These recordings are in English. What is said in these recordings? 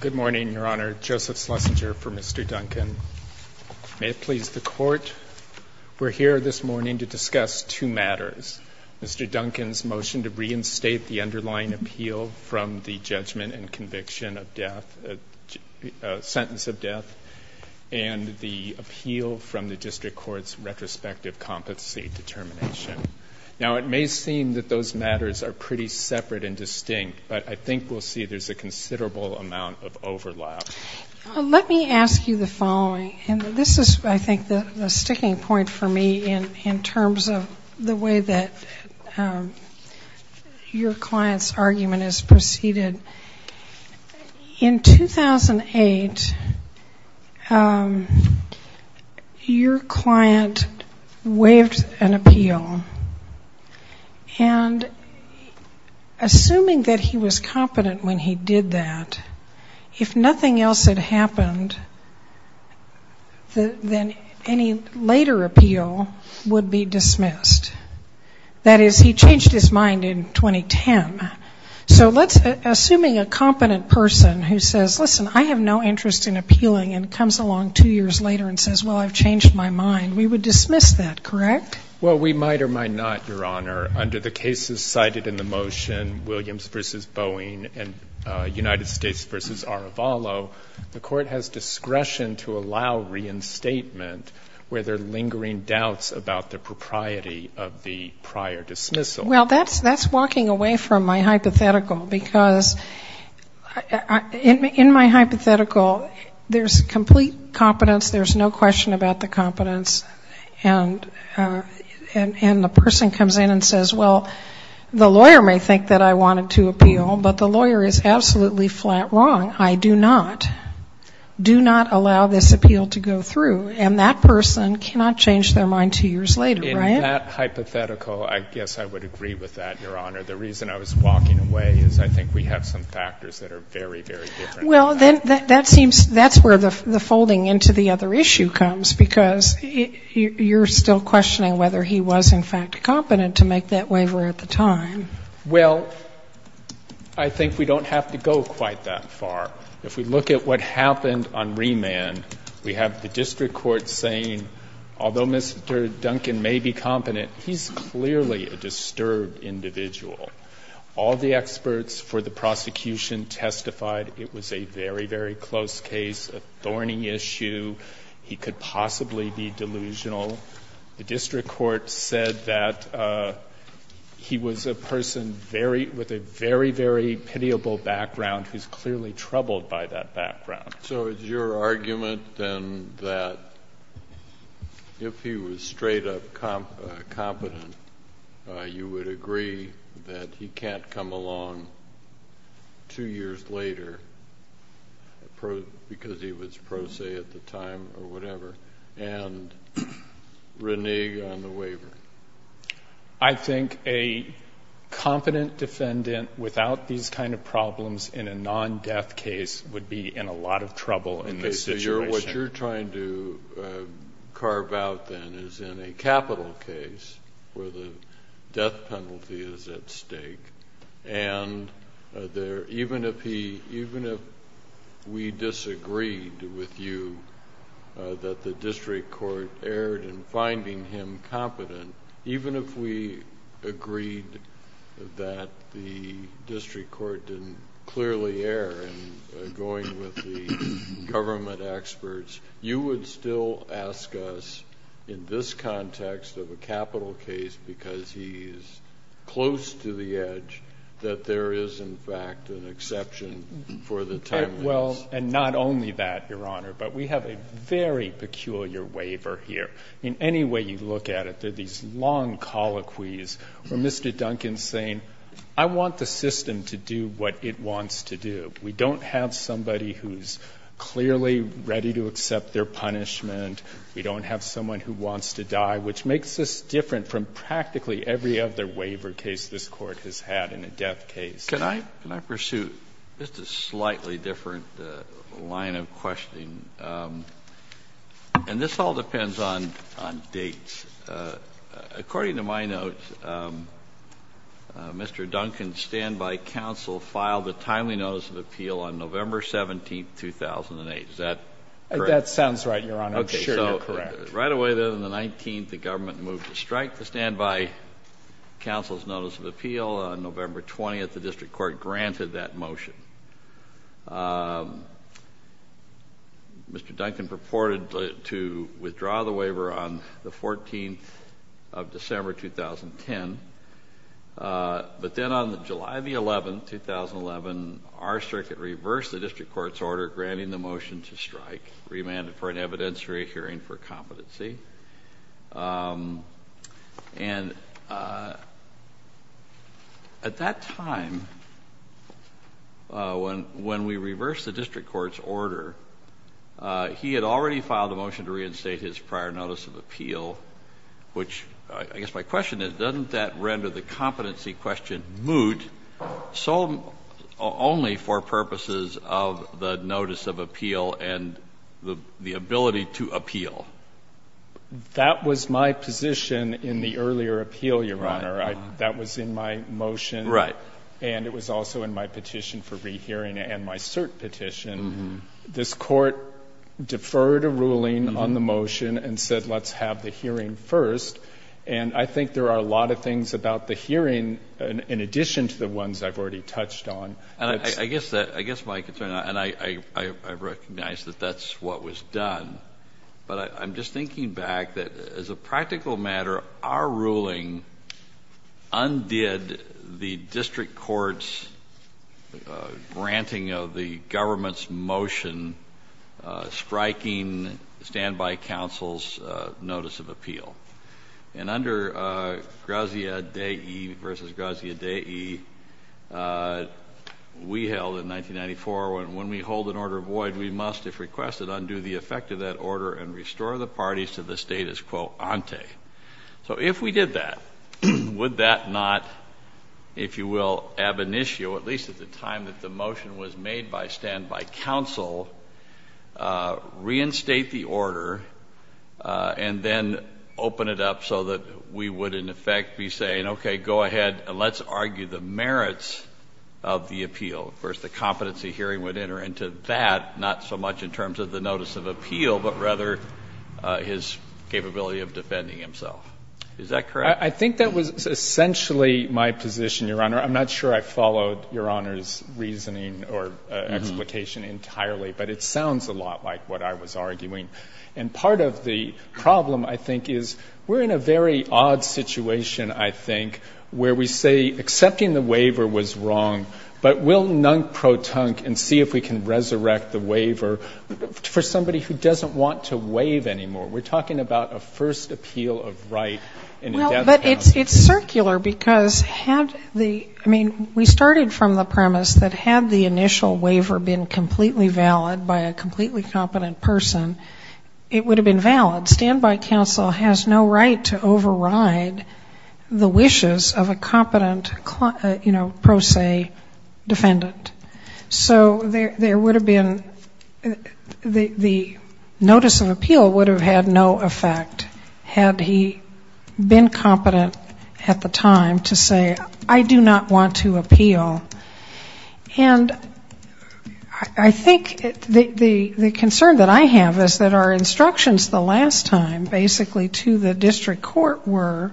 Good morning, Your Honor. Joseph Schlesinger for Mr. Duncan. May it please the Court, we're here this morning to discuss two matters. Mr. Duncan's motion to reinstate the underlying appeal from the judgment and conviction of death, a sentence of death, and the appeal from the District Court's retrospective competency determination. Now, it may seem that those matters are pretty separate and distinct, but I think we'll see there's a considerable amount of overlap. Let me ask you the following, and this is, I think, the sticking point for me in terms of the way that your client's argument is preceded. In 2008, your client waived an appeal, and assuming that he was competent when he did that, if nothing else had happened, then any later appeal would be dismissed. That is, he changed his mind in 2010. So let's, assuming a competent person who says, listen, I have no interest in appealing, and comes along two years later and says, well, I've changed my mind, we would dismiss that, correct? Well, we might or might not, Your Honor. Under the cases cited in the motion, Williams v. Boeing and United States v. Arevalo, the Court has discretion to allow reinstatement where there are lingering doubts about the propriety of the prior dismissal. Well, that's walking away from my hypothetical, because in my hypothetical, there's complete competence, there's no question about the competence, and the person comes in and says, well, the lawyer may think that I wanted to appeal, but the lawyer is absolutely flat wrong. I do not, do not allow this appeal to go through, and that person cannot change their mind two years later, right? In that hypothetical, I guess I would agree with that, Your Honor. The reason I was walking away is I think we have some factors that are very, very different. Well, then that seems, that's where the folding into the other issue comes, because you're still questioning whether he was, in fact, competent to make that waiver at the time. Well, I think we don't have to go quite that far. If we look at what happened on remand, we have the district court saying, although Mr. Duncan may be competent, he's clearly a disturbed individual. All the experts for the prosecution testified it was a very, very close case, a thorny issue. He could possibly be delusional. The district court said that he was a person very, with a very, very pitiable background who's clearly troubled by that background. So it's your argument, then, that if he was straight up competent, you would agree that he can't come along two years later because he was pro se at the time or whatever, and renege on the waiver? I think a competent defendant without these kind of problems in a non-death case would be in a lot of trouble in this situation. What you're trying to carve out, then, is in a capital case where the death penalty is at stake, and even if we disagreed with you that the district court erred in finding him competent, even if we agreed that the district court didn't clearly err in going with the government experts, you would still ask us, in this context of a capital case because he is close to the edge, that there is, in fact, an exception for the time limits? And not only that, Your Honor, but we have a very peculiar waiver here. In any way you look at it, there are these long colloquies where Mr. Duncan's saying, I want the system to do what it wants to do. We don't have somebody who's clearly ready to accept their punishment. We don't have someone who wants to die, which makes us different from practically every other waiver case this Court has had in a death case. Can I pursue just a slightly different line of questioning? And this all depends on dates. According to my notes, Mr. Duncan's standby counsel filed a timely notice of appeal on November 17, 2008. Is that correct? That sounds right, Your Honor. I'm sure you're correct. Right away, then, on the 19th, the government moved to strike the standby counsel's notice of appeal. On November 20th, the district court granted that motion. Mr. Duncan purported to withdraw the waiver on the 14th of December, 2010. But then on July 11, 2011, our circuit reversed the district court's order granting the motion to strike, remanded for an evidence-free hearing for competency. And at that time, when we reversed the district court's order, he had already filed a motion to reinstate his prior notice of appeal, which I guess my question is, doesn't that render the competency question moot only for purposes of the notice of appeal and the ability to appeal? That was my position in the earlier appeal, Your Honor. That was in my motion. Right. And it was also in my petition for rehearing and my cert petition. This court deferred a ruling on the motion and said, let's have the hearing first. And I think there are a lot of things about the hearing, in addition to the ones I've already touched on. I guess my concern, and I recognize that that's what was done, but I'm just thinking back that, as a practical matter, our ruling undid the district court's granting of the government's motion striking standby counsel's notice of appeal. And under Grazia Dei v. Grazia Dei, we held in 1994, when we hold an order void, we must, if requested, undo the effect of that order and restore the parties to the status quo ante. So if we did that, would that not, if you will, ab initio, at least at the time that the motion was made by standby counsel, reinstate the order and then open it up so that we would, in effect, be saying, okay, go ahead and let's argue the merits of the appeal. So, of course, the competency hearing would enter into that, not so much in terms of the notice of appeal, but rather his capability of defending himself. Is that correct? I think that was essentially my position, Your Honor. I'm not sure I followed Your Honor's reasoning or explication entirely, but it sounds a lot like what I was arguing. And part of the problem, I think, is we're in a very odd situation, I think, where we say accepting the waiver was wrong, but we'll nunk-pro-tunk and see if we can resurrect the waiver for somebody who doesn't want to waive anymore. We're talking about a first appeal of right in a death penalty. But it's circular, because had the, I mean, we started from the premise that had the initial waiver been completely valid by a completely competent person, it would have been valid. Standby counsel has no right to override the wishes of a competent, you know, pro se defendant. So there would have been, the notice of appeal would have had no effect had he been competent at the time to say, I do not want to appeal. And I think the concern that I have is that our instructions the last time, basically, to the district court were,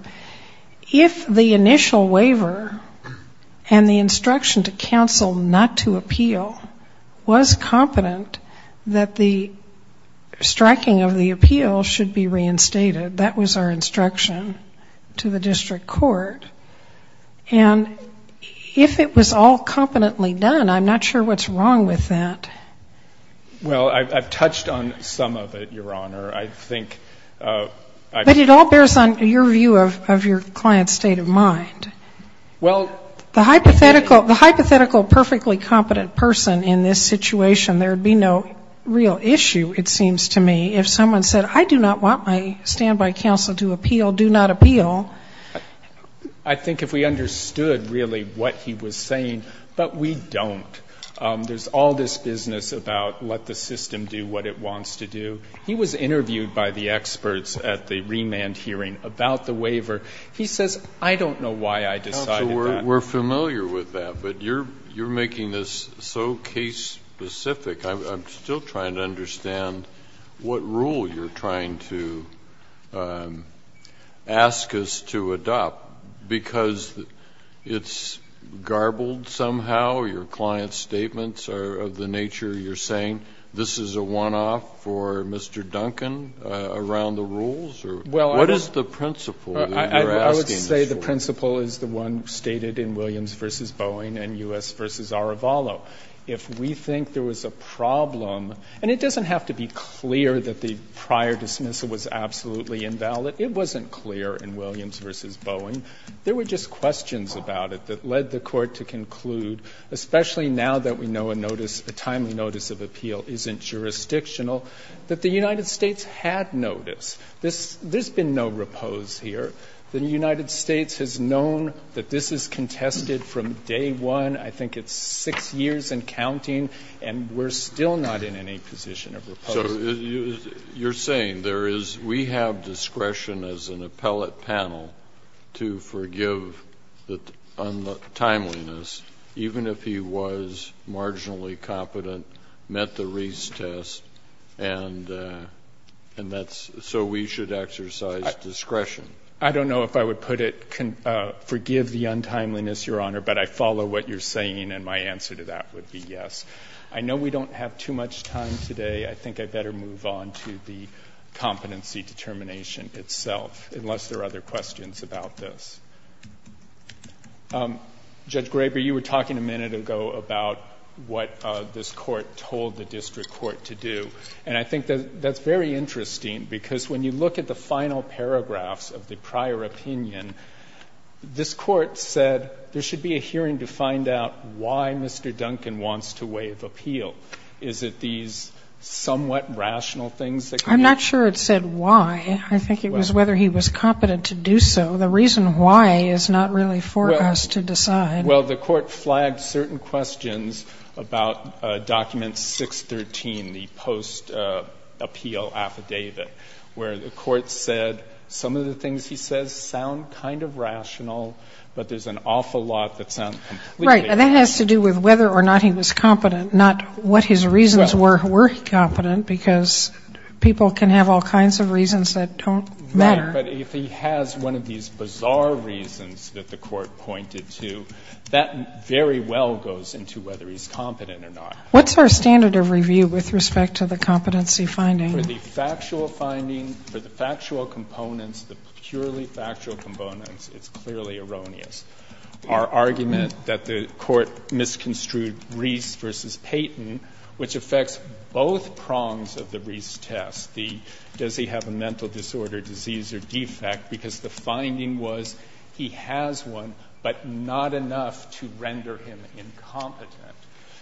if the initial waiver and the instruction to counsel not to appeal was competent, that the striking of the appeal should be reinstated. That was our instruction to the district court. And if it was all competently done, I'm not sure what's wrong with that. Well, I've touched on some of it, Your Honor. But it all bears on your view of your client's state of mind. The hypothetical perfectly competent person in this situation, there would be no real issue, it seems to me, if someone said, I do not want my standby counsel to appeal, do not appeal. I think if we understood, really, what he was saying, but we don't. There's all this business about let the system do what it wants to do. He was interviewed by the experts at the remand hearing about the waiver. He says, I don't know why I decided that. Counsel, we're familiar with that. But you're making this so case-specific. I'm still trying to understand what rule you're trying to ask us to adopt, because it's garbled somehow, your client's statements are of the nature, you're saying this is a one-off for Mr. Duncan around the rules? What is the principle that you're asking this for? The principle is the one stated in Williams v. Boeing and U.S. v. Arevalo. If we think there was a problem, and it doesn't have to be clear that the prior dismissal was absolutely invalid, it wasn't clear in Williams v. Boeing. There were just questions about it that led the Court to conclude, especially now that we know a notice, a timely notice of appeal isn't jurisdictional, that the United States had notice. There's been no repose here. The United States has known that this is contested from day one. I think it's 6 years and counting, and we're still not in any position of repose. So you're saying there is we have discretion as an appellate panel to forgive the timeliness, even if he was marginally competent, met the Reese test, and that's so we should exercise discretion? I don't know if I would put it, forgive the untimeliness, Your Honor, but I follow what you're saying, and my answer to that would be yes. I know we don't have too much time today. I think I'd better move on to the competency determination itself, unless there are other questions about this. Judge Graber, you were talking a minute ago about what this Court told the district court to do, and I think that's very interesting because when you look at the final paragraphs of the prior opinion, this Court said there should be a hearing to find out why Mr. Duncan wants to waive appeal. Is it these somewhat rational things that come up? I'm not sure it said why. I think it was whether he was competent to do so. The reason why is not really for us to decide. Well, the Court flagged certain questions about document 613, the post-appeal affidavit, where the Court said some of the things he says sound kind of rational, but there's an awful lot that sounds completely rational. Right. And that has to do with whether or not he was competent, not what his reasons were, were he competent, because people can have all kinds of reasons that don't matter. Right. But if he has one of these bizarre reasons that the Court pointed to, that very well goes into whether he's competent or not. What's our standard of review with respect to the competency finding? For the factual finding, for the factual components, the purely factual components, it's clearly erroneous. Our argument that the Court misconstrued Reese v. Payton, which affects both prongs of the Reese test, the does he have a mental disorder, disease or defect, because the finding was he has one, but not enough to render him incompetent.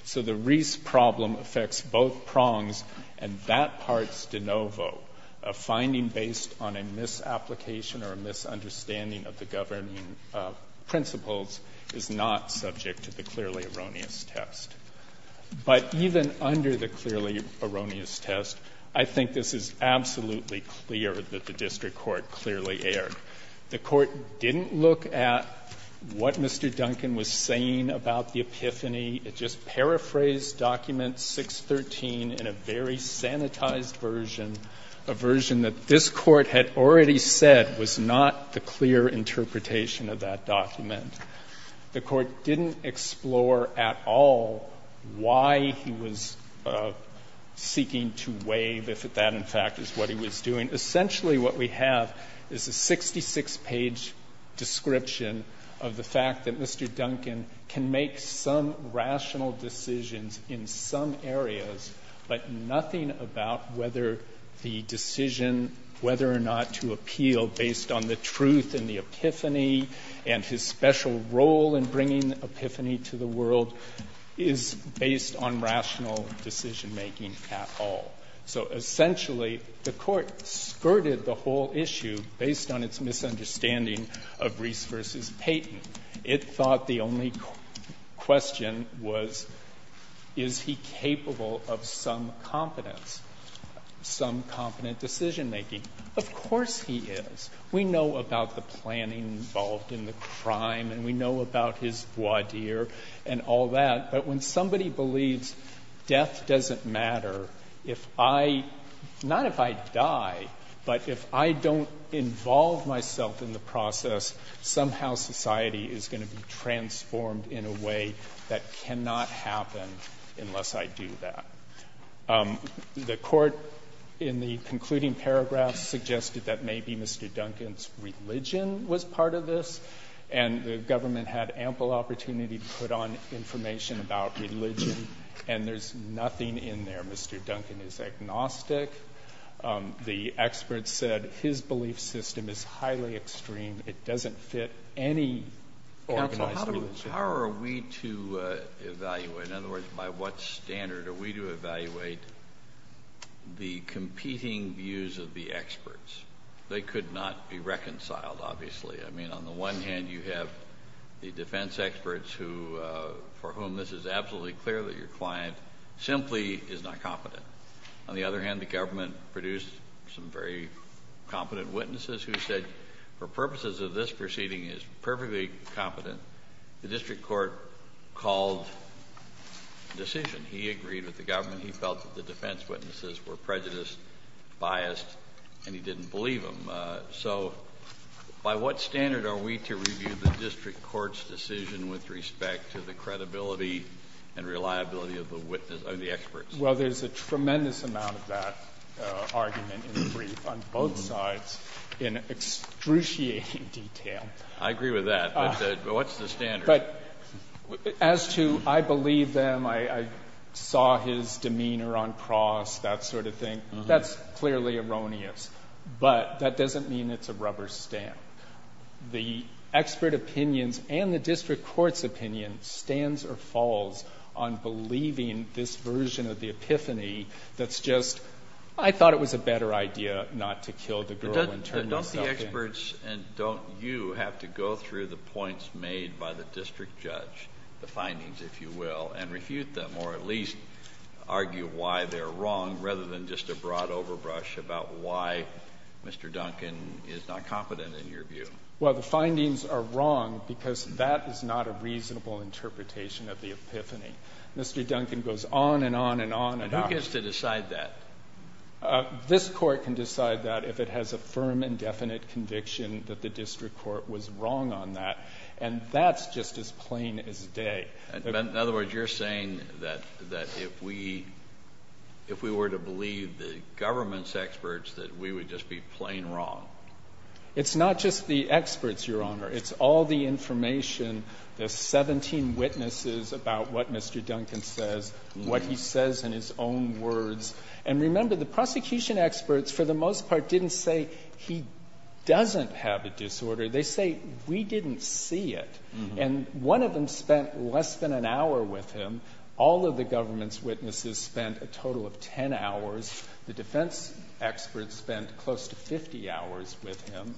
So the Reese problem affects both prongs, and that part's de novo. A finding based on a misapplication or a misunderstanding of the governing principles is not subject to the clearly erroneous test. But even under the clearly erroneous test, I think this is absolutely clear that the District Court clearly erred. The Court didn't look at what Mr. Duncan was saying about the epiphany. It just paraphrased document 613 in a very sanitized version, a version that this Court had already said was not the clear interpretation of that document. The Court didn't explore at all why he was seeking to waive, if that in fact is what he was doing. Essentially, what we have is a 66-page description of the fact that Mr. Duncan can make some rational decisions in some areas, but nothing about whether the decision whether or not to appeal based on the truth and the epiphany and his special role in bringing epiphany to the world is based on rational decision-making at all. So essentially, the Court skirted the whole issue based on its misunderstanding of Reese v. Payton. It thought the only question was, is he capable of some competence, some competent decision-making? Of course he is. We know about the planning involved in the crime, and we know about his voir dire and all that. But when somebody believes death doesn't matter if I — not if I die, but if I don't involve myself in the process, somehow society is going to be transformed in a way that cannot happen unless I do that. The Court, in the concluding paragraph, suggested that maybe Mr. Duncan's religion was part of this, and the government had ample opportunity to put on information about religion, and there's nothing in there. Mr. Duncan is agnostic. The experts said his belief system is highly extreme. It doesn't fit any organized religion. Counsel, how are we to evaluate — in other words, by what standard are we to evaluate the competing views of the experts? They could not be reconciled, obviously. I mean, on the one hand, you have the defense experts who — for whom this is absolutely clear that your client simply is not competent. On the other hand, the government produced some very competent witnesses who said, for purposes of this proceeding is perfectly competent. The district court called the decision. He agreed with the government. He felt that the defense witnesses were prejudiced, biased, and he didn't believe them. So by what standard are we to review the district court's decision with respect to the credibility and reliability of the witness — of the experts? Well, there's a tremendous amount of that argument in the brief on both sides in excruciating detail. I agree with that. But what's the standard? But as to I believe them, I saw his demeanor on cross, that sort of thing, that's clearly erroneous. But that doesn't mean it's a rubber stamp. The expert opinions and the district court's opinion stands or falls on believing this version of the epiphany that's just, I thought it was a better idea not to kill the girl and turn yourself in. But don't the experts and don't you have to go through the points made by the district judge, the findings, if you will, and refute them or at least argue why they're wrong rather than just a broad overbrush about why Mr. Duncan is not competent in your view? Well, the findings are wrong because that is not a reasonable interpretation of the epiphany. Mr. Duncan goes on and on and on. And who gets to decide that? This court can decide that if it has a firm and definite conviction that the district court was wrong on that. And that's just as plain as day. In other words, you're saying that if we were to believe the government's experts, that we would just be plain wrong. It's not just the experts, Your Honor. It's all the information. There's 17 witnesses about what Mr. Duncan says, what he says in his own words. And remember, the prosecution experts, for the most part, didn't say he doesn't have a disorder. They say we didn't see it. And one of them spent less than an hour with him. All of the government's witnesses spent a total of 10 hours. The defense experts spent close to 50 hours with him.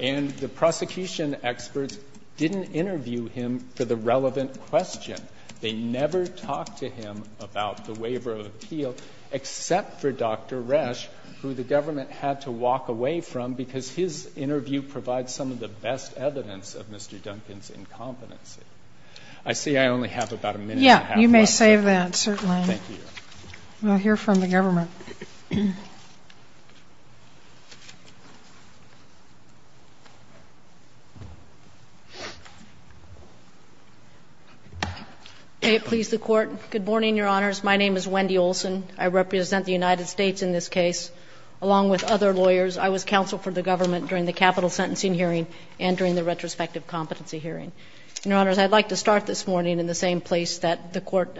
And the prosecution experts didn't interview him for the relevant question. They never talked to him about the waiver of appeal, except for Dr. Resch, who the government had to walk away from because his interview provides some of the best evidence of Mr. Duncan's incompetency. I see I only have about a minute and a half left. Yeah, you may save that, certainly. Thank you, Your Honor. We'll hear from the government. May it please the Court. Good morning, Your Honors. My name is Wendy Olson. I represent the United States in this case, along with other lawyers. I was counsel for the government during the capital sentencing hearing and during the retrospective competency hearing. Your Honors, I'd like to start this morning in the same place that the Court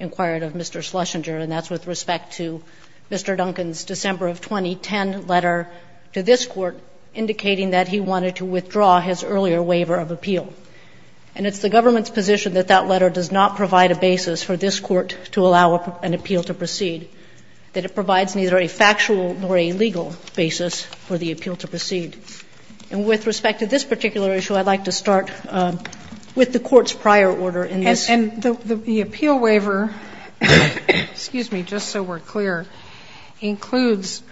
inquired of Mr. Schlesinger. And that's with respect to Mr. Duncan's December of 2010 letter to this Court, indicating that he wanted to withdraw his earlier waiver of appeal. And it's the government's position that that letter does not provide a basis for this Court to allow an appeal to proceed, that it provides neither a factual nor a legal basis for the appeal to proceed. And with respect to this particular issue, I'd like to start with the Court's prior order in this. And the appeal waiver, excuse me, just so we're clear, includes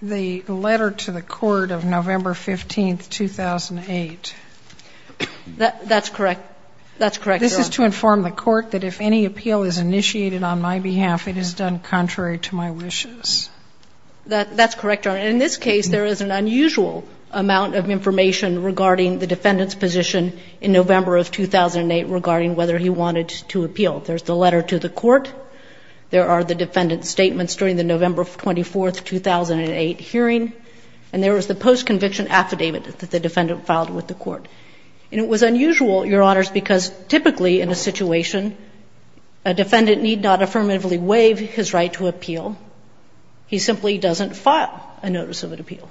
the letter to the Court of November 15, 2008. That's correct. That's correct, Your Honor. This is to inform the Court that if any appeal is initiated on my behalf, it is done contrary to my wishes. That's correct, Your Honor. And in this case, there is an unusual amount of information regarding the defendant's whether he wanted to appeal. There's the letter to the Court. There are the defendant's statements during the November 24, 2008 hearing. And there was the post-conviction affidavit that the defendant filed with the Court. And it was unusual, Your Honors, because typically in a situation, a defendant need not affirmatively waive his right to appeal. He simply doesn't file a notice of an appeal.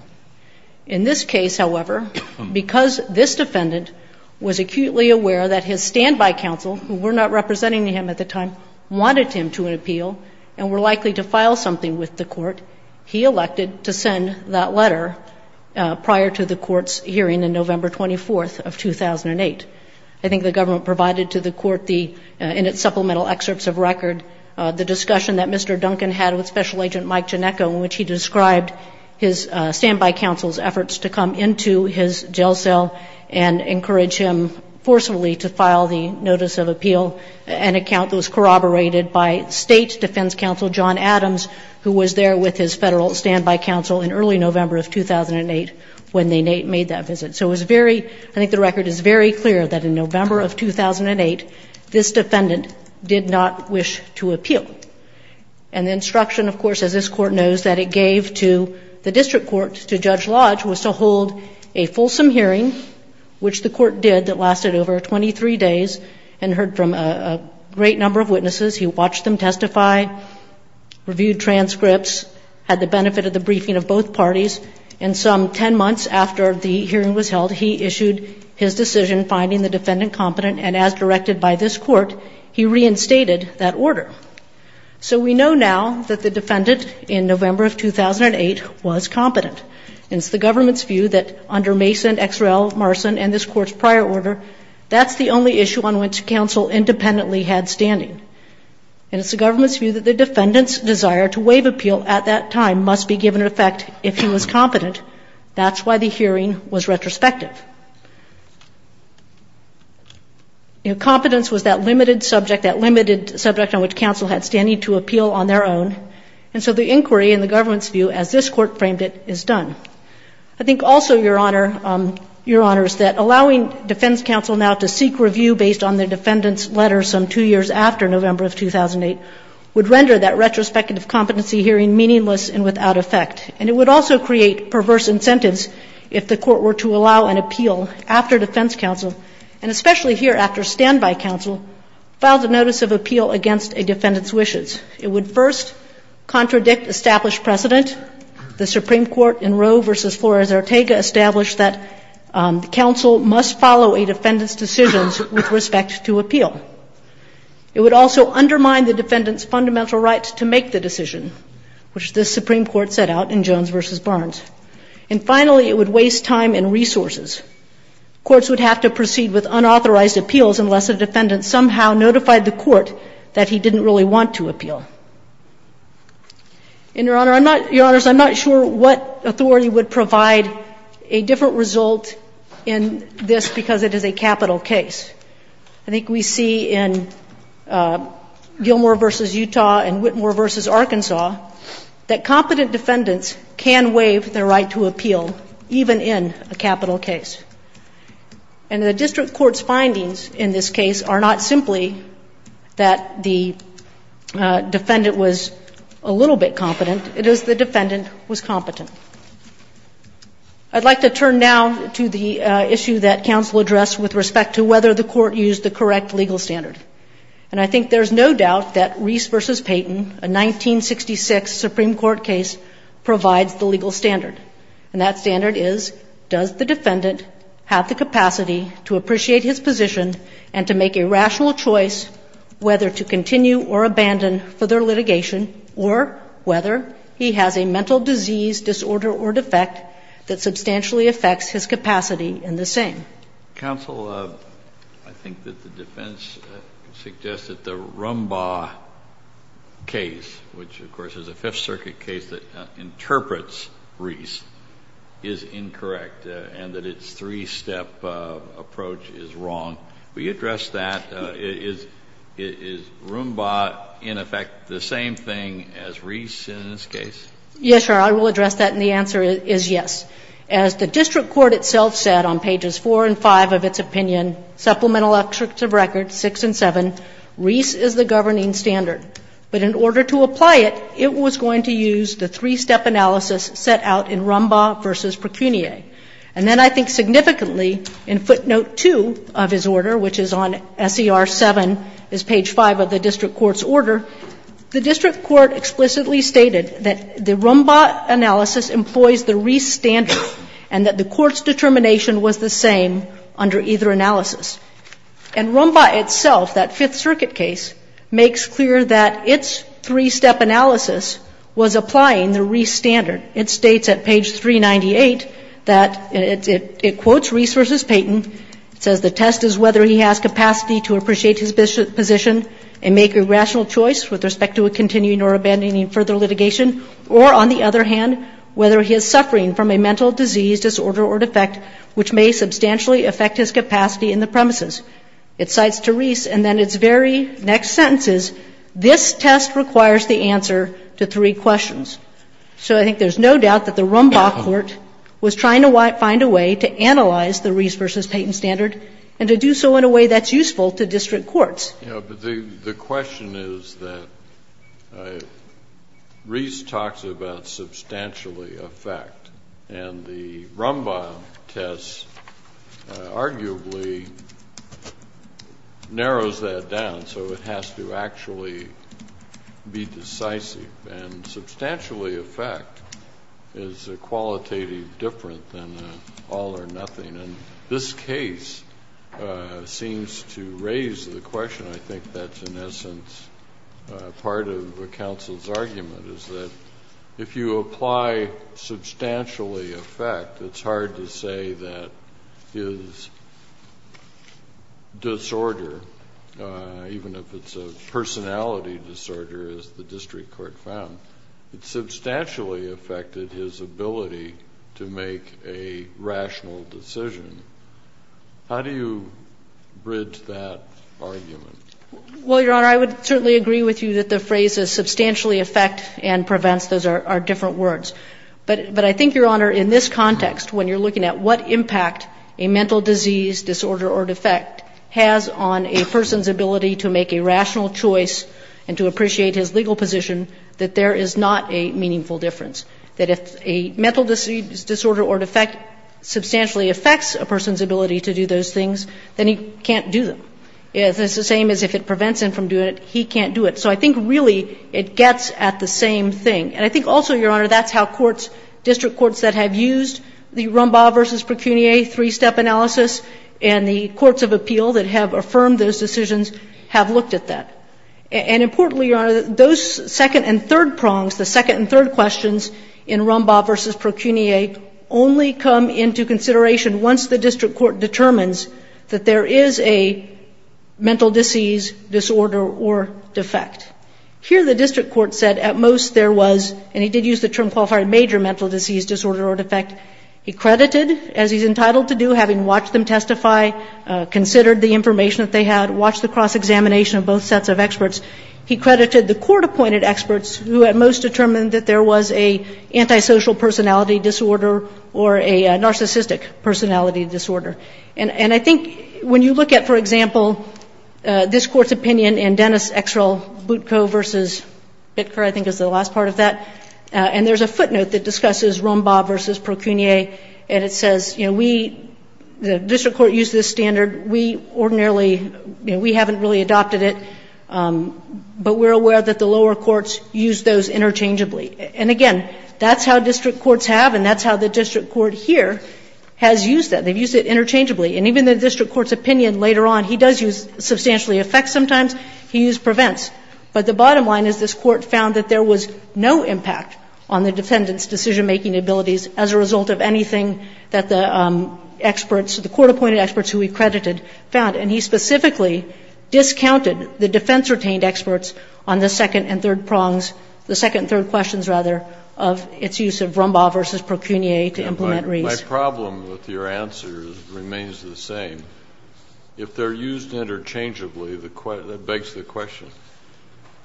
In this case, however, because this defendant was acutely aware that his standby counsel, who were not representing him at the time, wanted him to appeal and were likely to file something with the Court, he elected to send that letter prior to the Court's hearing on November 24, 2008. I think the government provided to the Court in its supplemental excerpts of record the discussion that Mr. Duncan had with Special Agent Mike Janecka, in which he described his standby counsel's efforts to come into his jail cell and encourage him forcefully to file the notice of appeal, an account that was corroborated by State Defense Counsel John Adams, who was there with his Federal standby counsel in early November of 2008 when they made that visit. So it was very – I think the record is very clear that in November of 2008, this defendant did not wish to appeal. And the instruction, of course, as this Court knows, that it gave to the district court, to Judge Lodge, was to hold a fulsome hearing, which the Court did, that lasted over 23 days, and heard from a great number of witnesses. He watched them testify, reviewed transcripts, had the benefit of the briefing of both parties. And some 10 months after the hearing was held, he issued his decision finding the defendant competent, and as directed by this Court, he reinstated that order. So we know now that the defendant, in November of 2008, was competent. And it's the government's view that under Mason, Exrell, Marson, and this Court's prior order, that's the only issue on which counsel independently had standing. And it's the government's view that the defendant's desire to waive appeal at that time must be given effect if he was competent. That's why the hearing was retrospective. Competence was that limited subject, that limited subject on which counsel had standing to appeal on their own. And so the inquiry, in the government's view, as this Court framed it, is done. I think also, Your Honor, Your Honors, that allowing defense counsel now to seek review based on the defendant's letter some two years after November of 2008, would render that retrospective competency hearing meaningless and without effect. And it would also create perverse incentives if the Court were to allow an appeal after defense counsel, and especially here after standby counsel, filed a notice of appeal against a defendant's wishes. It would first contradict established precedent. The Supreme Court in Roe v. Flores-Ortega established that the counsel must follow a defendant's decisions with respect to appeal. It would also undermine the defendant's fundamental right to make the decision, which the Supreme Court set out in Jones v. Barnes. And finally, it would waste time and resources. Courts would have to proceed with unauthorized appeals unless a defendant somehow notified the Court that he didn't really want to appeal. And, Your Honor, I'm not, Your Honors, I'm not sure what authority would provide a different result in this because it is a capital case. I think we see in Gilmore v. Utah and Whitmore v. Arkansas that competent defendants can waive their right to appeal, even in a capital case. And the district court's findings in this case are not simply that the defendant was a little bit competent, it is the defendant was competent. I'd like to turn now to the issue that counsel addressed with respect to whether the court used the correct legal standard. And I think there's no doubt that Reese v. Payton, a 1966 Supreme Court case, provides the legal standard. And that standard is, does the defendant have the capacity to appreciate his position and to make a rational choice whether to continue or abandon further litigation or whether he has a mental disease, disorder, or defect that substantially affects his capacity in the same? Counsel, I think that the defense suggests that the Roomba case, which, of course, is a Fifth Circuit case that interprets Reese, is incorrect and that its three-step approach is wrong. Will you address that? Is Roomba, in effect, the same thing as Reese in this case? Yes, Your Honor. I will address that, and the answer is yes. As the district court itself said on pages 4 and 5 of its opinion, supplemental extracts of records 6 and 7, Reese is the governing standard. But in order to apply it, it was going to use the three-step analysis set out in Roomba v. Precunier. And then I think significantly, in footnote 2 of his order, which is on SER 7, is page 5 of the district court's order, the district court explicitly stated that the Roomba analysis employs the Reese standard and that the court's determination was the same under either analysis. And Roomba itself, that Fifth Circuit case, makes clear that its three-step analysis was applying the Reese standard. It states at page 398 that it quotes Reese v. Payton. It says the test is whether he has capacity to appreciate his position and make a rational choice with respect to a continuing or abandoning further litigation, or on the other hand, whether he is suffering from a mental disease disorder or defect which may substantially affect his capacity in the premises. It cites to Reese, and then its very next sentence is, this test requires the answer to three questions. So I think there's no doubt that the Roomba court was trying to find a way to analyze the Reese v. Payton standard and to do so in a way that's useful to district courts. The question is that Reese talks about substantially affect, and the Roomba test arguably narrows that down, so it has to actually be decisive. And substantially affect is a qualitative difference than an all or nothing. And this case seems to raise the question. I think that's in essence part of the counsel's argument is that if you apply substantially affect, it's hard to say that his disorder, even if it's a personality disorder as the How do you bridge that argument? Well, Your Honor, I would certainly agree with you that the phrases substantially affect and prevents, those are different words. But I think, Your Honor, in this context, when you're looking at what impact a mental disease disorder or defect has on a person's ability to make a rational choice and to appreciate his legal position, that there is not a meaningful difference. That if a mental disease disorder or defect substantially affects a person's ability to do those things, then he can't do them. It's the same as if it prevents him from doing it, he can't do it. So I think really it gets at the same thing. And I think also, Your Honor, that's how courts, district courts that have used the Roomba v. Pecunia three-step analysis and the courts of appeal that have affirmed those decisions have looked at that. And importantly, Your Honor, those second and third prongs, the second and third questions in Roomba v. Pecunia only come into consideration once the district court determines that there is a mental disease disorder or defect. Here the district court said at most there was, and he did use the term qualified major mental disease disorder or defect. He credited, as he's entitled to do, having watched them testify, considered the cross-examination of both sets of experts. He credited the court-appointed experts who at most determined that there was a antisocial personality disorder or a narcissistic personality disorder. And I think when you look at, for example, this Court's opinion in Dennis Exrell Butko v. Bittker, I think is the last part of that, and there's a footnote that discusses Roomba v. Pecunia, and it says, you know, we, the district court used this standard, we ordinarily, you know, we haven't really adopted it, but we're aware that the lower courts use those interchangeably. And again, that's how district courts have, and that's how the district court here has used that. They've used it interchangeably. And even the district court's opinion later on, he does use substantially affects sometimes, he used prevents. But the bottom line is this Court found that there was no impact on the defendant's decision-making abilities as a result of anything that the experts, the court-appointed experts who he credited, found. And he specifically discounted the defense-retained experts on the second and third prongs, the second and third questions, rather, of its use of Roomba v. Pecunia to implement Reese. My problem with your answer remains the same. If they're used interchangeably, that begs the question,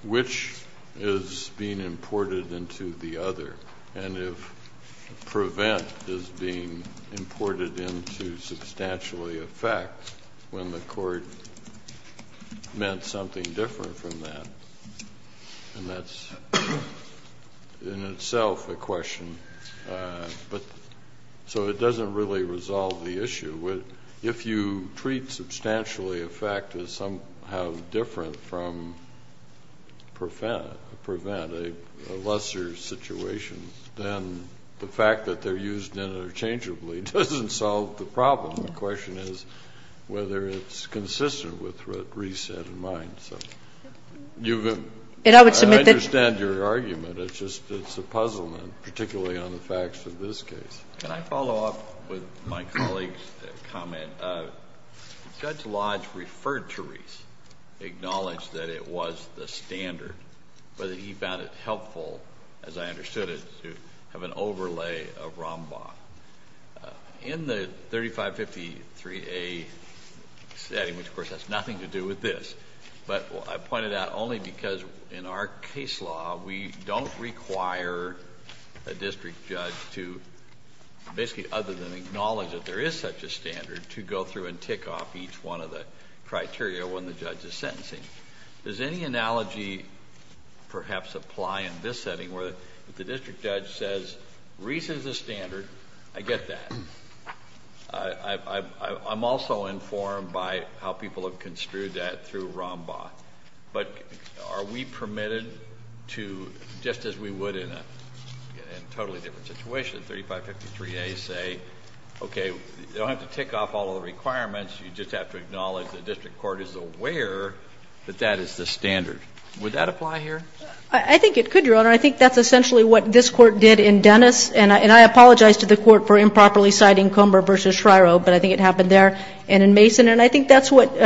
which is being imported into the other? And if prevent is being imported into substantially affect when the court meant something different from that? And that's in itself a question. But so it doesn't really resolve the issue. If you treat substantially affect as somehow different from prevent, a lesser situation, then the fact that they're used interchangeably doesn't solve the problem. The question is whether it's consistent with what Reese had in mind. So you've been ---- I understand your argument. It's just, it's a puzzlement, particularly on the facts of this case. Can I follow up with my colleague's comment? Judge Lodge referred to Reese, acknowledged that it was the standard, but he found it helpful, as I understood it, to have an overlay of Roomba. In the 3553A setting, which of course has nothing to do with this, but I pointed out only because in our case law we don't require a district judge to basically other than acknowledge that there is such a standard to go through and tick off each one of the criteria when the judge is sentencing. Does any analogy perhaps apply in this setting where the district judge says, Reese is the standard. I get that. I'm also informed by how people have construed that through Roomba. But are we permitted to, just as we would in a totally different situation, 3553A say, okay, you don't have to tick off all the requirements, you just have to acknowledge the district court is aware that that is the standard. Would that apply here? I think it could, Your Honor. I think that's essentially what this Court did in Dennis. And I apologize to the Court for improperly citing Comber v. Shryo, but I think it happened there. And in Mason. And I think that's what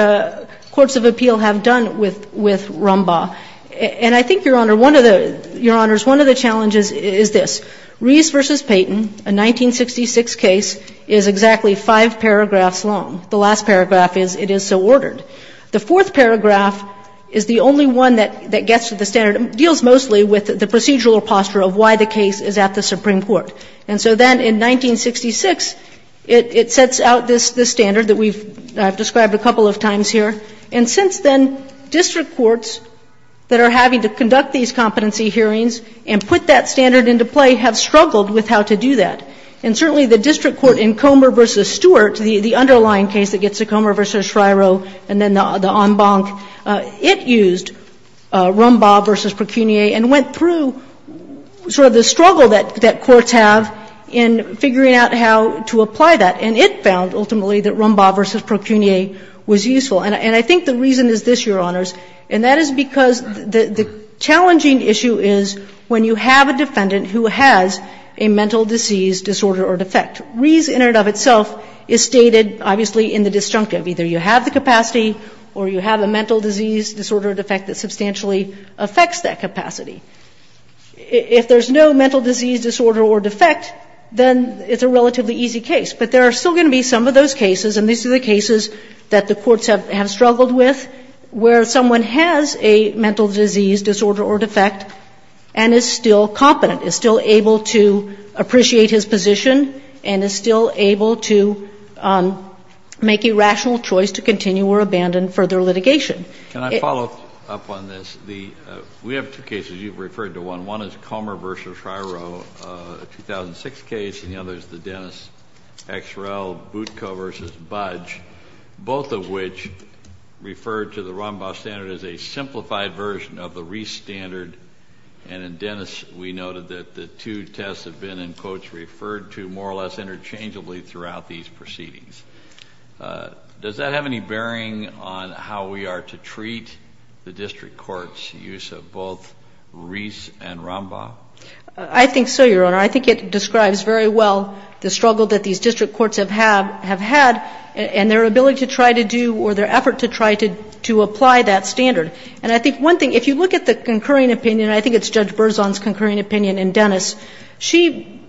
courts of appeal have done with Roomba. And I think, Your Honor, one of the challenges is this. Reese v. Payton, a 1966 case, is exactly five paragraphs long. The last paragraph is, it is so ordered. The fourth paragraph is the only one that gets to the standard. It deals mostly with the procedural posture of why the case is at the Supreme Court. And so then in 1966, it sets out this standard that we've described a couple of times here. And since then, district courts that are having to conduct these competency hearings and put that standard into play have struggled with how to do that. And certainly the district court in Comber v. Stewart, the underlying case that gets to Comber v. Shryo and then the en banc, it used Roomba v. Procunier and went through sort of the struggle that courts have in figuring out how to apply that. And it found, ultimately, that Roomba v. Procunier was useful. And I think the reason is this, Your Honors, and that is because the challenging issue is when you have a defendant who has a mental disease, disorder, or defect. Reason in and of itself is stated, obviously, in the disjunctive. Either you have the capacity or you have a mental disease, disorder, or defect that substantially affects that capacity. If there's no mental disease, disorder, or defect, then it's a relatively easy case. But there are still going to be some of those cases, and these are the cases that the courts have struggled with, where someone has a mental disease, disorder, or defect and is still competent, is still able to appreciate his position and is still able to make a rational choice to continue or abandon further litigation. Kennedy. Can I follow up on this? We have two cases. You've referred to one. One is Comber v. Shryo, a 2006 case, and the other is the Dennis X. Rel. Butko v. Budge. Both of which refer to the Rombaugh standard as a simplified version of the Reese standard. And in Dennis, we noted that the two tests have been, in quotes, referred to more or less interchangeably throughout these proceedings. Does that have any bearing on how we are to treat the district court's use of both Reese and Rombaugh? I think so, Your Honor. I think it describes very well the struggle that these district courts have had, and their ability to try to do, or their effort to try to apply that standard. And I think one thing, if you look at the concurring opinion, I think it's Judge Berzon's concurring opinion in Dennis, she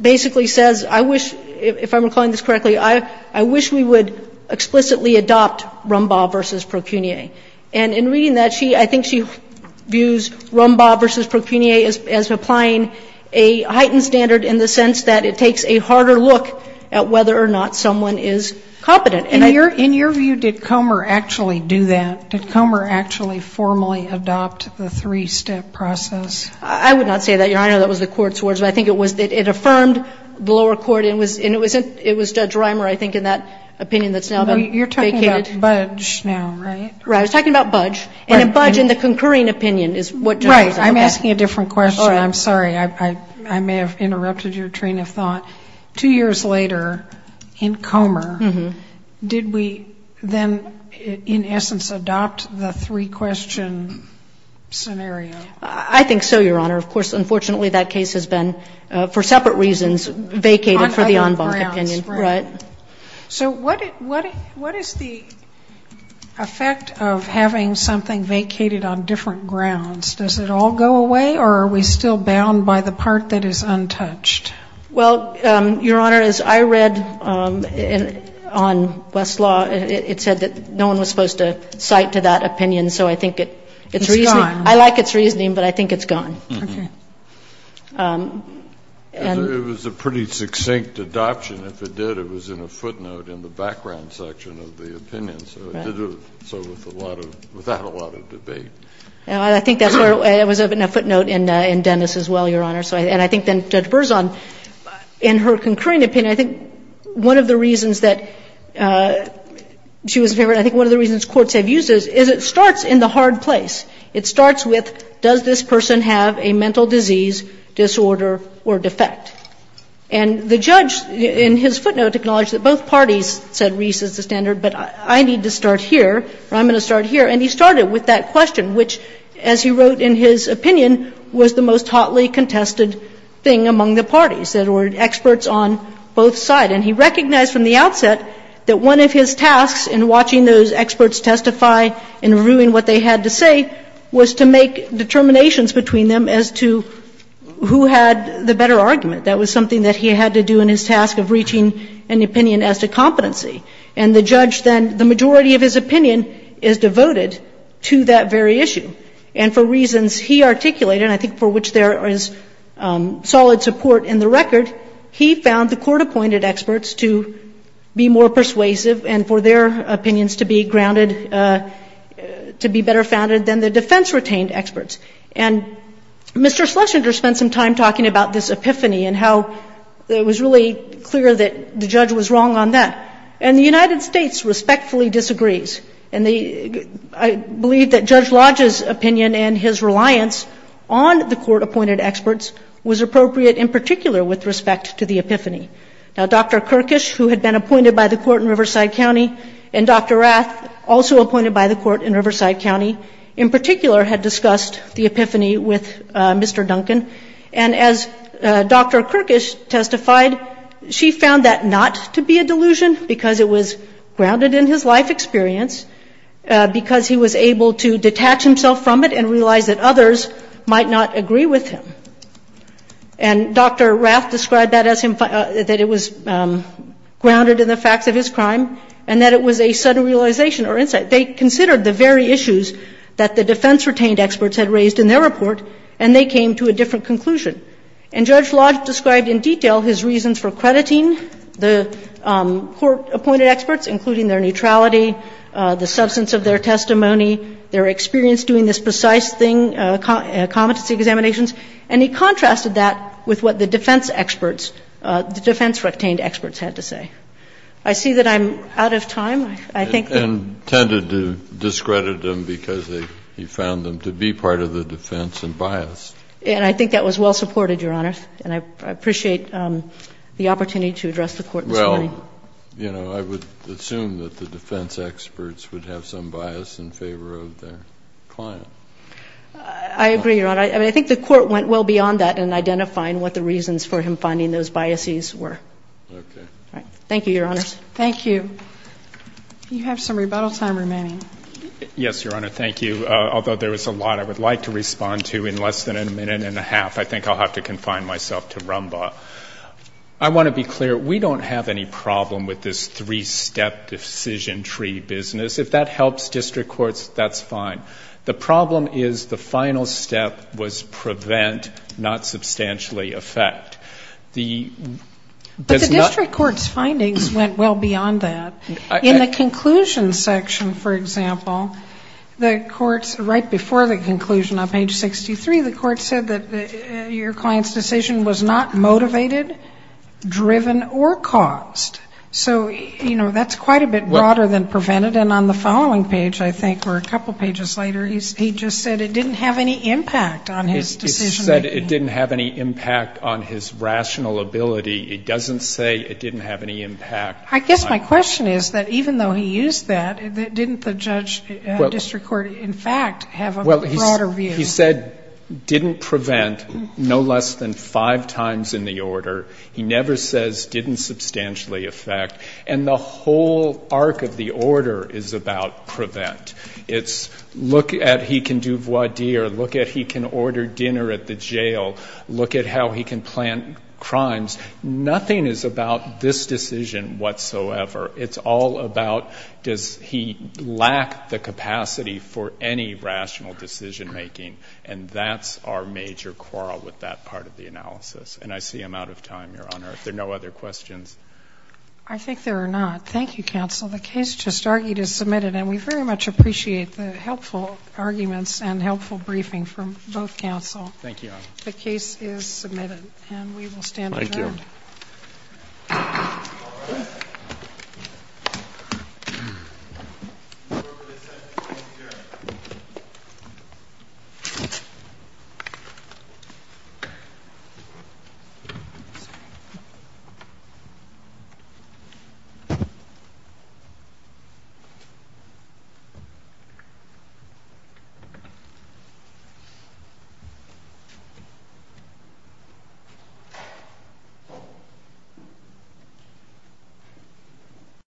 basically says, I wish, if I'm recalling this correctly, I wish we would explicitly adopt Rombaugh v. Procunier. And in reading that, she, I think she views Rombaugh v. Procunier as applying a heightened standard in the sense that it takes a harder look at whether or not someone is competent. And I don't think that's true. In your view, did Comer actually do that? Did Comer actually formally adopt the three-step process? I would not say that, Your Honor. That was the court's words. But I think it was that it affirmed the lower court, and it was Judge Rimer, I think, in that opinion that's now been vacated. You're talking about Budge now, right? Right. I was talking about Budge. And then Budge in the concurring opinion is what Judge Berzon said. I'm asking a different question. I'm sorry. I may have interrupted your train of thought. Two years later, in Comer, did we then, in essence, adopt the three-question scenario? I think so, Your Honor. Of course, unfortunately, that case has been, for separate reasons, vacated for the en banc opinion. Right. So what is the effect of having something vacated on different grounds? Does it all go away, or are we still bound by the part that is untouched? Well, Your Honor, as I read on Westlaw, it said that no one was supposed to cite to that opinion. So I think it's reasoning. It's gone. I like its reasoning, but I think it's gone. Okay. It was a pretty succinct adoption. If it did, it was in a footnote in the background section of the opinion. So it did it without a lot of debate. I think that's where it was in a footnote in Dennis as well, Your Honor. And I think then Judge Berzon, in her concurring opinion, I think one of the reasons that she was in favor, I think one of the reasons courts have used this is it starts in the hard place. It starts with, does this person have a mental disease, disorder, or defect? And the judge, in his footnote, acknowledged that both parties said Reese is the standard, but I need to start here, or I'm going to start here. And he started with that question, which, as he wrote in his opinion, was the most thoughtly contested thing among the parties, that there were experts on both sides. And he recognized from the outset that one of his tasks in watching those experts testify and reviewing what they had to say was to make determinations between them as to who had the better argument. That was something that he had to do in his task of reaching an opinion as to competency. And the judge then, the majority of his opinion is devoted to that very issue. And for reasons he articulated, and I think for which there is solid support in the record, he found the court-appointed experts to be more persuasive and for their opinions to be grounded, to be better founded than the defense-retained experts. And Mr. Schlesinger spent some time talking about this epiphany and how it was really clear that the judge was wrong on that. And the United States respectfully disagrees. And I believe that Judge Lodge's opinion and his reliance on the court-appointed experts was appropriate in particular with respect to the epiphany. Now, Dr. Kirkish, who had been appointed by the court in Riverside County, and Dr. Rath, also appointed by the court in Riverside County, in particular had discussed the epiphany with Mr. Duncan. And as Dr. Kirkish testified, she found that not to be a delusion because it was grounded in his life experience because he was able to detach himself from it and realize that others might not agree with him. And Dr. Rath described that as him, that it was grounded in the facts of his crime and that it was a sudden realization or insight. They considered the very issues that the defense-retained experts had raised in their report, and they came to a different conclusion. And Judge Lodge described in detail his reasons for crediting the court-appointed experts, including their neutrality, the substance of their testimony, their experience doing this precise thing, competency examinations. And he contrasted that with what the defense experts, the defense-retained experts had to say. I see that I'm out of time. I think that we're out of time. Kennedy, and tended to discredit them because he found them to be part of the defense and biased. And I think that was well-supported, Your Honor. And I appreciate the opportunity to address the Court this morning. Well, you know, I would assume that the defense experts would have some bias in favor of their client. I agree, Your Honor. I think the Court went well beyond that in identifying what the reasons for him finding those biases were. Okay. All right. Thank you, Your Honor. Thank you. You have some rebuttal time remaining. Yes, Your Honor. Thank you. Although there was a lot I would like to respond to in less than a minute and a half, I think I'll have to confine myself to Rumbaugh. I want to be clear. We don't have any problem with this three-step decision tree business. If that helps district courts, that's fine. The problem is the final step was prevent, not substantially affect. But the district court's findings went well beyond that. In the conclusion section, for example, the courts right before the conclusion on page 63, the court said that your client's decision was not motivated, driven, or caused. So, you know, that's quite a bit broader than prevented. And on the following page, I think, or a couple pages later, he just said it didn't have any impact on his decision-making. It said it didn't have any impact on his rational ability. It doesn't say it didn't have any impact. I guess my question is that even though he used that, didn't the district court, in fact, have a broader view? He said didn't prevent no less than five times in the order. He never says didn't substantially affect. And the whole arc of the order is about prevent. It's look at he can do voir dire, look at he can order dinner at the jail, look at how he can plan crimes. Nothing is about this decision whatsoever. It's all about does he lack the capacity for any rational decision-making, and that's our major quarrel with that part of the analysis. And I see I'm out of time, Your Honor. If there are no other questions. I think there are not. Thank you, counsel. The case just argued is submitted, and we very much appreciate the helpful arguments and helpful briefing from both counsel. Thank you, Your Honor. The case is submitted, and we will stand adjourned. Thank you. All rise. Thank you.